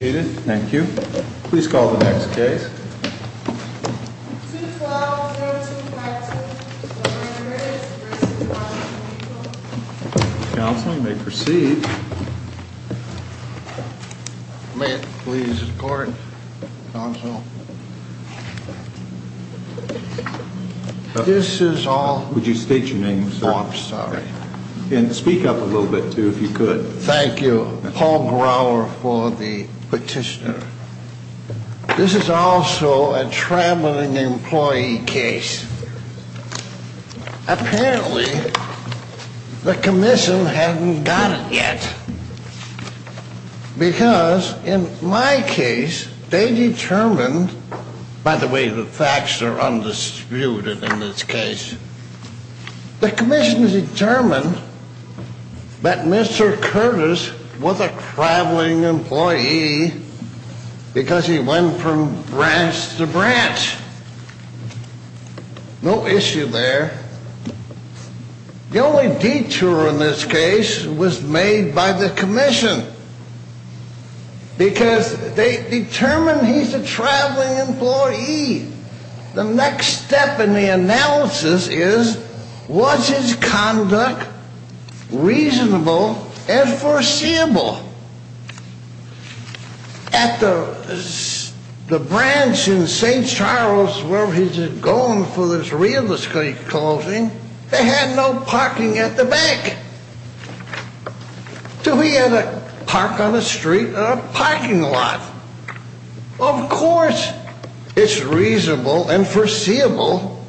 Thank you. Please call the next case. Counsel, you may proceed. May it please the court, counsel. This is all... Would you state your name, sir? Oh, I'm sorry. And speak up a little bit, too, if you could. Thank you. Paul Grauer for the petitioner. This is also a traveling employee case. Apparently, the commission hadn't got it yet. Because, in my case, they determined... By the way, the facts are undisputed in this case. The commission determined that Mr. Kertis was a traveling employee because he went from branch to branch. No issue there. The only detour in this case was made by the commission. Because they determined he's a traveling employee. The next step in the analysis is, was his conduct reasonable and foreseeable? At the branch in St. Charles, where he's going for his real estate closing, they had no parking at the bank. So he had to park on the street in a parking lot. Of course, it's reasonable and foreseeable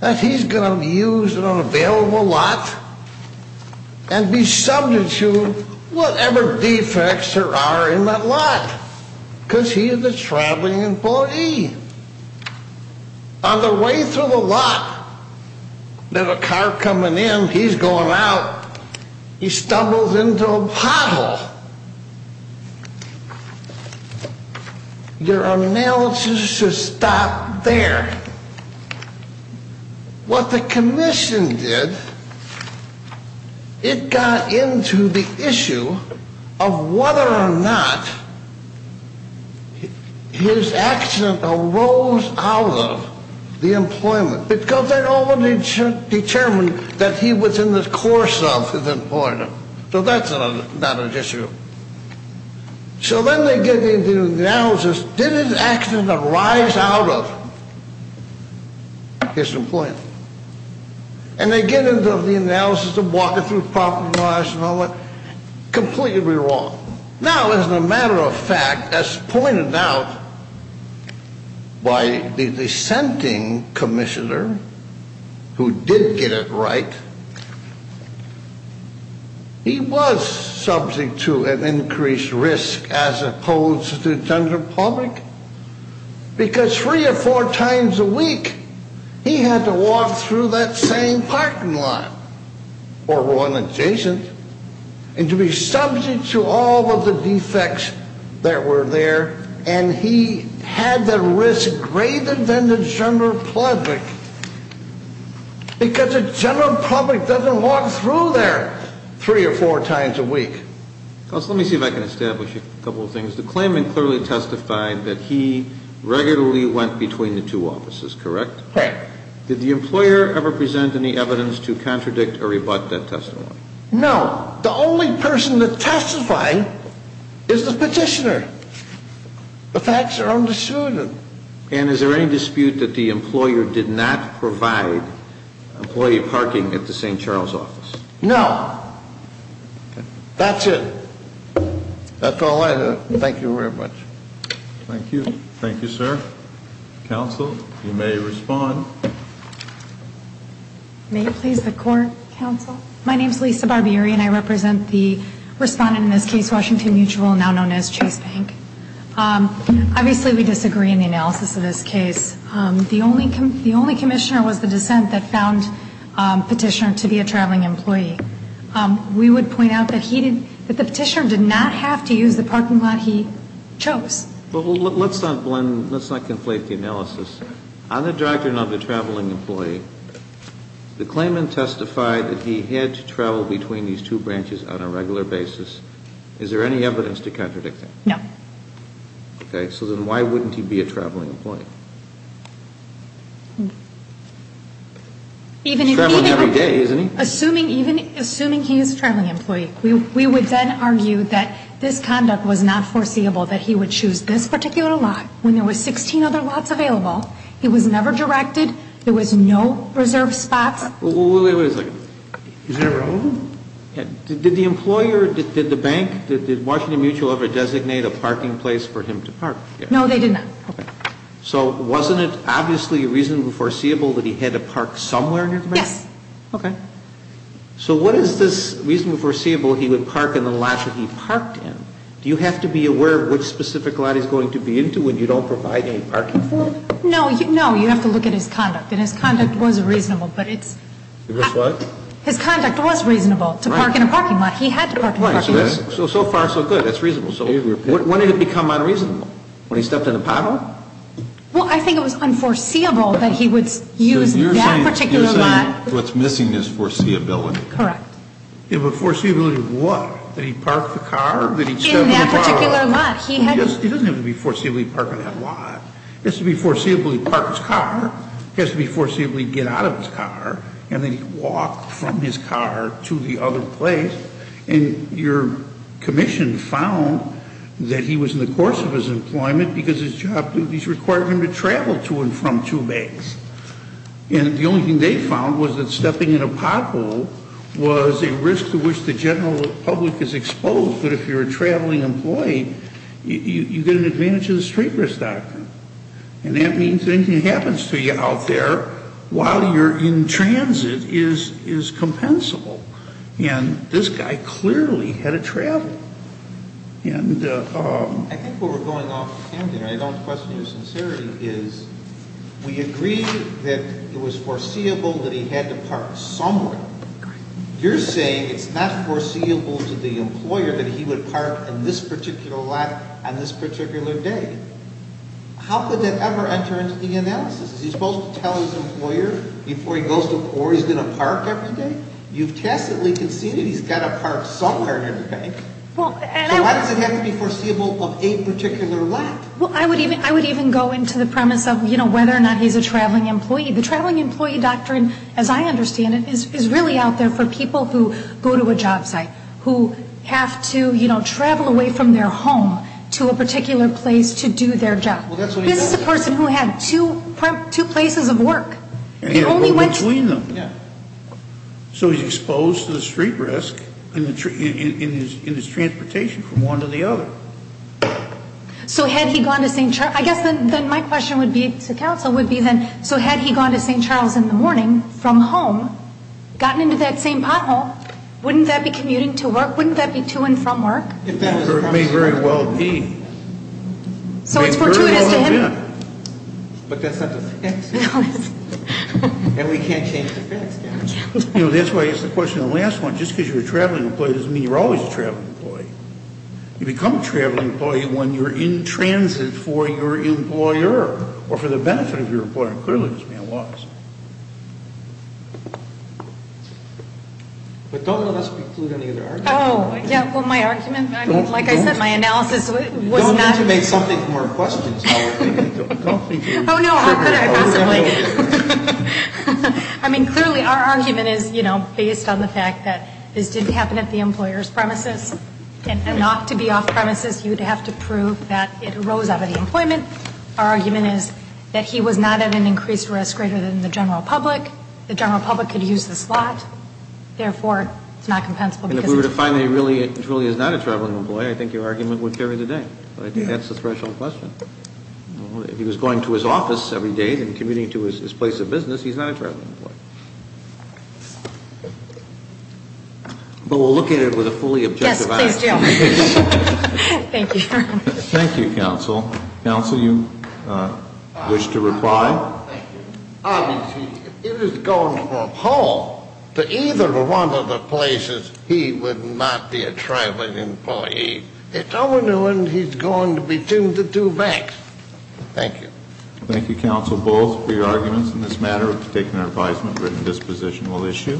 that he's going to be used in an available lot and be subject to whatever defects there are in that lot. Because he's a traveling employee. On the way through the lot, there's a car coming in. He's going out. He stumbles into a pothole. Your analysis should stop there. What the commission did, it got into the issue of whether or not his accident arose out of the employment. Because they already determined that he was in the course of his employment. So that's not an issue. So then they get into the analysis, did his accident arise out of his employment? And they get into the analysis of walking through parking lots and all that. Completely wrong. Now, as a matter of fact, as pointed out by the dissenting commissioner, who did get it right, he was subject to an increased risk as opposed to the general public. Because three or four times a week, he had to walk through that same parking lot or one adjacent. And to be subject to all of the defects that were there. And he had the risk greater than the general public. Because the general public doesn't walk through there three or four times a week. Counsel, let me see if I can establish a couple of things. The claimant clearly testified that he regularly went between the two offices, correct? Correct. Did the employer ever present any evidence to contradict or rebut that testimony? No. The only person that testified is the petitioner. The facts are understood. And is there any dispute that the employer did not provide employee parking at the St. Charles office? No. That's it. That's all I have. Thank you very much. Thank you. Thank you, sir. Counsel, you may respond. May it please the court, counsel? My name is Lisa Barbieri, and I represent the respondent in this case, Washington Mutual, now known as Chase Bank. Obviously, we disagree in the analysis of this case. The only commissioner was the dissent that found petitioner to be a traveling employee. We would point out that he did, that the petitioner did not have to use the parking lot he chose. Well, let's not blend, let's not conflate the analysis. On the doctrine of the traveling employee, the claimant testified that he had to travel between these two branches on a regular basis. Is there any evidence to contradict that? No. Okay. So then why wouldn't he be a traveling employee? He's traveling every day, isn't he? Assuming he is a traveling employee, we would then argue that this conduct was not foreseeable, that he would choose this particular lot when there were 16 other lots available. He was never directed. There was no reserved spots. Wait a second. Is that irrelevant? Did the employer, did the bank, did Washington Mutual ever designate a parking place for him to park? No, they did not. Okay. So wasn't it obviously reasonably foreseeable that he had to park somewhere near the bank? Yes. Okay. So what is this reasonably foreseeable he would park in the lot that he parked in? Do you have to be aware of which specific lot he's going to be into when you don't provide any parking for him? No. You have to look at his conduct. And his conduct was reasonable, but it's... His what? His conduct was reasonable to park in a parking lot. He had to park in a parking lot. So far, so good. That's reasonable. When did it become unreasonable? When he stepped in a pothole? Well, I think it was unforeseeable that he would use that particular lot. So you're saying what's missing is foreseeability. Correct. But foreseeability of what? That he parked the car? In that particular lot. He doesn't have to be foreseeable to park on that lot. It has to be foreseeable he'd park his car. It has to be foreseeable he'd get out of his car. And then he'd walk from his car to the other place. And your commission found that he was in the course of his employment because his job duties required him to travel to and from two banks. And the only thing they found was that stepping in a pothole was a risk to which the general public is exposed. But if you're a traveling employee, you get an advantage of the street risk doctrine. And that means that anything that happens to you out there while you're in transit is compensable. And this guy clearly had to travel. I think what we're going off hand here, and I don't question your sincerity, is we agree that it was foreseeable that he had to park somewhere. You're saying it's not foreseeable to the employer that he would park in this particular lot on this particular day. How could that ever enter into the analysis? Is he supposed to tell his employer before he goes to work or he's going to park every day? You've tacitly conceded he's got to park somewhere in a bank. So why does it have to be foreseeable of a particular lot? Well, I would even go into the premise of, you know, whether or not he's a traveling employee. The traveling employee doctrine, as I understand it, is really out there for people who go to a job site, who have to, you know, travel away from their home to a particular place to do their job. This is a person who had two places of work. And he had to go between them. So he's exposed to the street risk in his transportation from one to the other. So had he gone to St. Charles? I guess then my question to counsel would be then, so had he gone to St. Charles in the morning from home, gotten into that same pothole, wouldn't that be commuting to work? Wouldn't that be to and from work? It may very well be. So it's fortuitous to him. But that's not to fix. And we can't change the facts, can we? You know, that's why I asked the question in the last one. Just because you're a traveling employee doesn't mean you're always a traveling employee. You become a traveling employee when you're in transit for your employer or for the benefit of your employer. And clearly this man was. But don't let us preclude any other arguments. Oh, yeah, well, my argument, I mean, like I said, my analysis was not. You have to make something more questionable. Oh, no, how could I possibly? I mean, clearly our argument is, you know, based on the fact that this didn't happen at the employer's premises and not to be off premises, you would have to prove that it arose out of the employment. Our argument is that he was not at an increased risk greater than the general public. The general public could use the slot. Therefore, it's not compensable. And if we were to find that he really truly is not a traveling employee, I think your argument would carry the day. I think that's the threshold question. If he was going to his office every day and commuting to his place of business, he's not a traveling employee. But we'll look at it with a fully objective eye. Yes, please do. Thank you. Thank you, counsel. Counsel, you wish to reply? Obviously, if he was going from home to either one of the places, he would not be a traveling employee. It's only when he's going between the two banks. Thank you. Thank you, counsel, both for your arguments in this matter. We've taken our advisement. Written disposition will issue.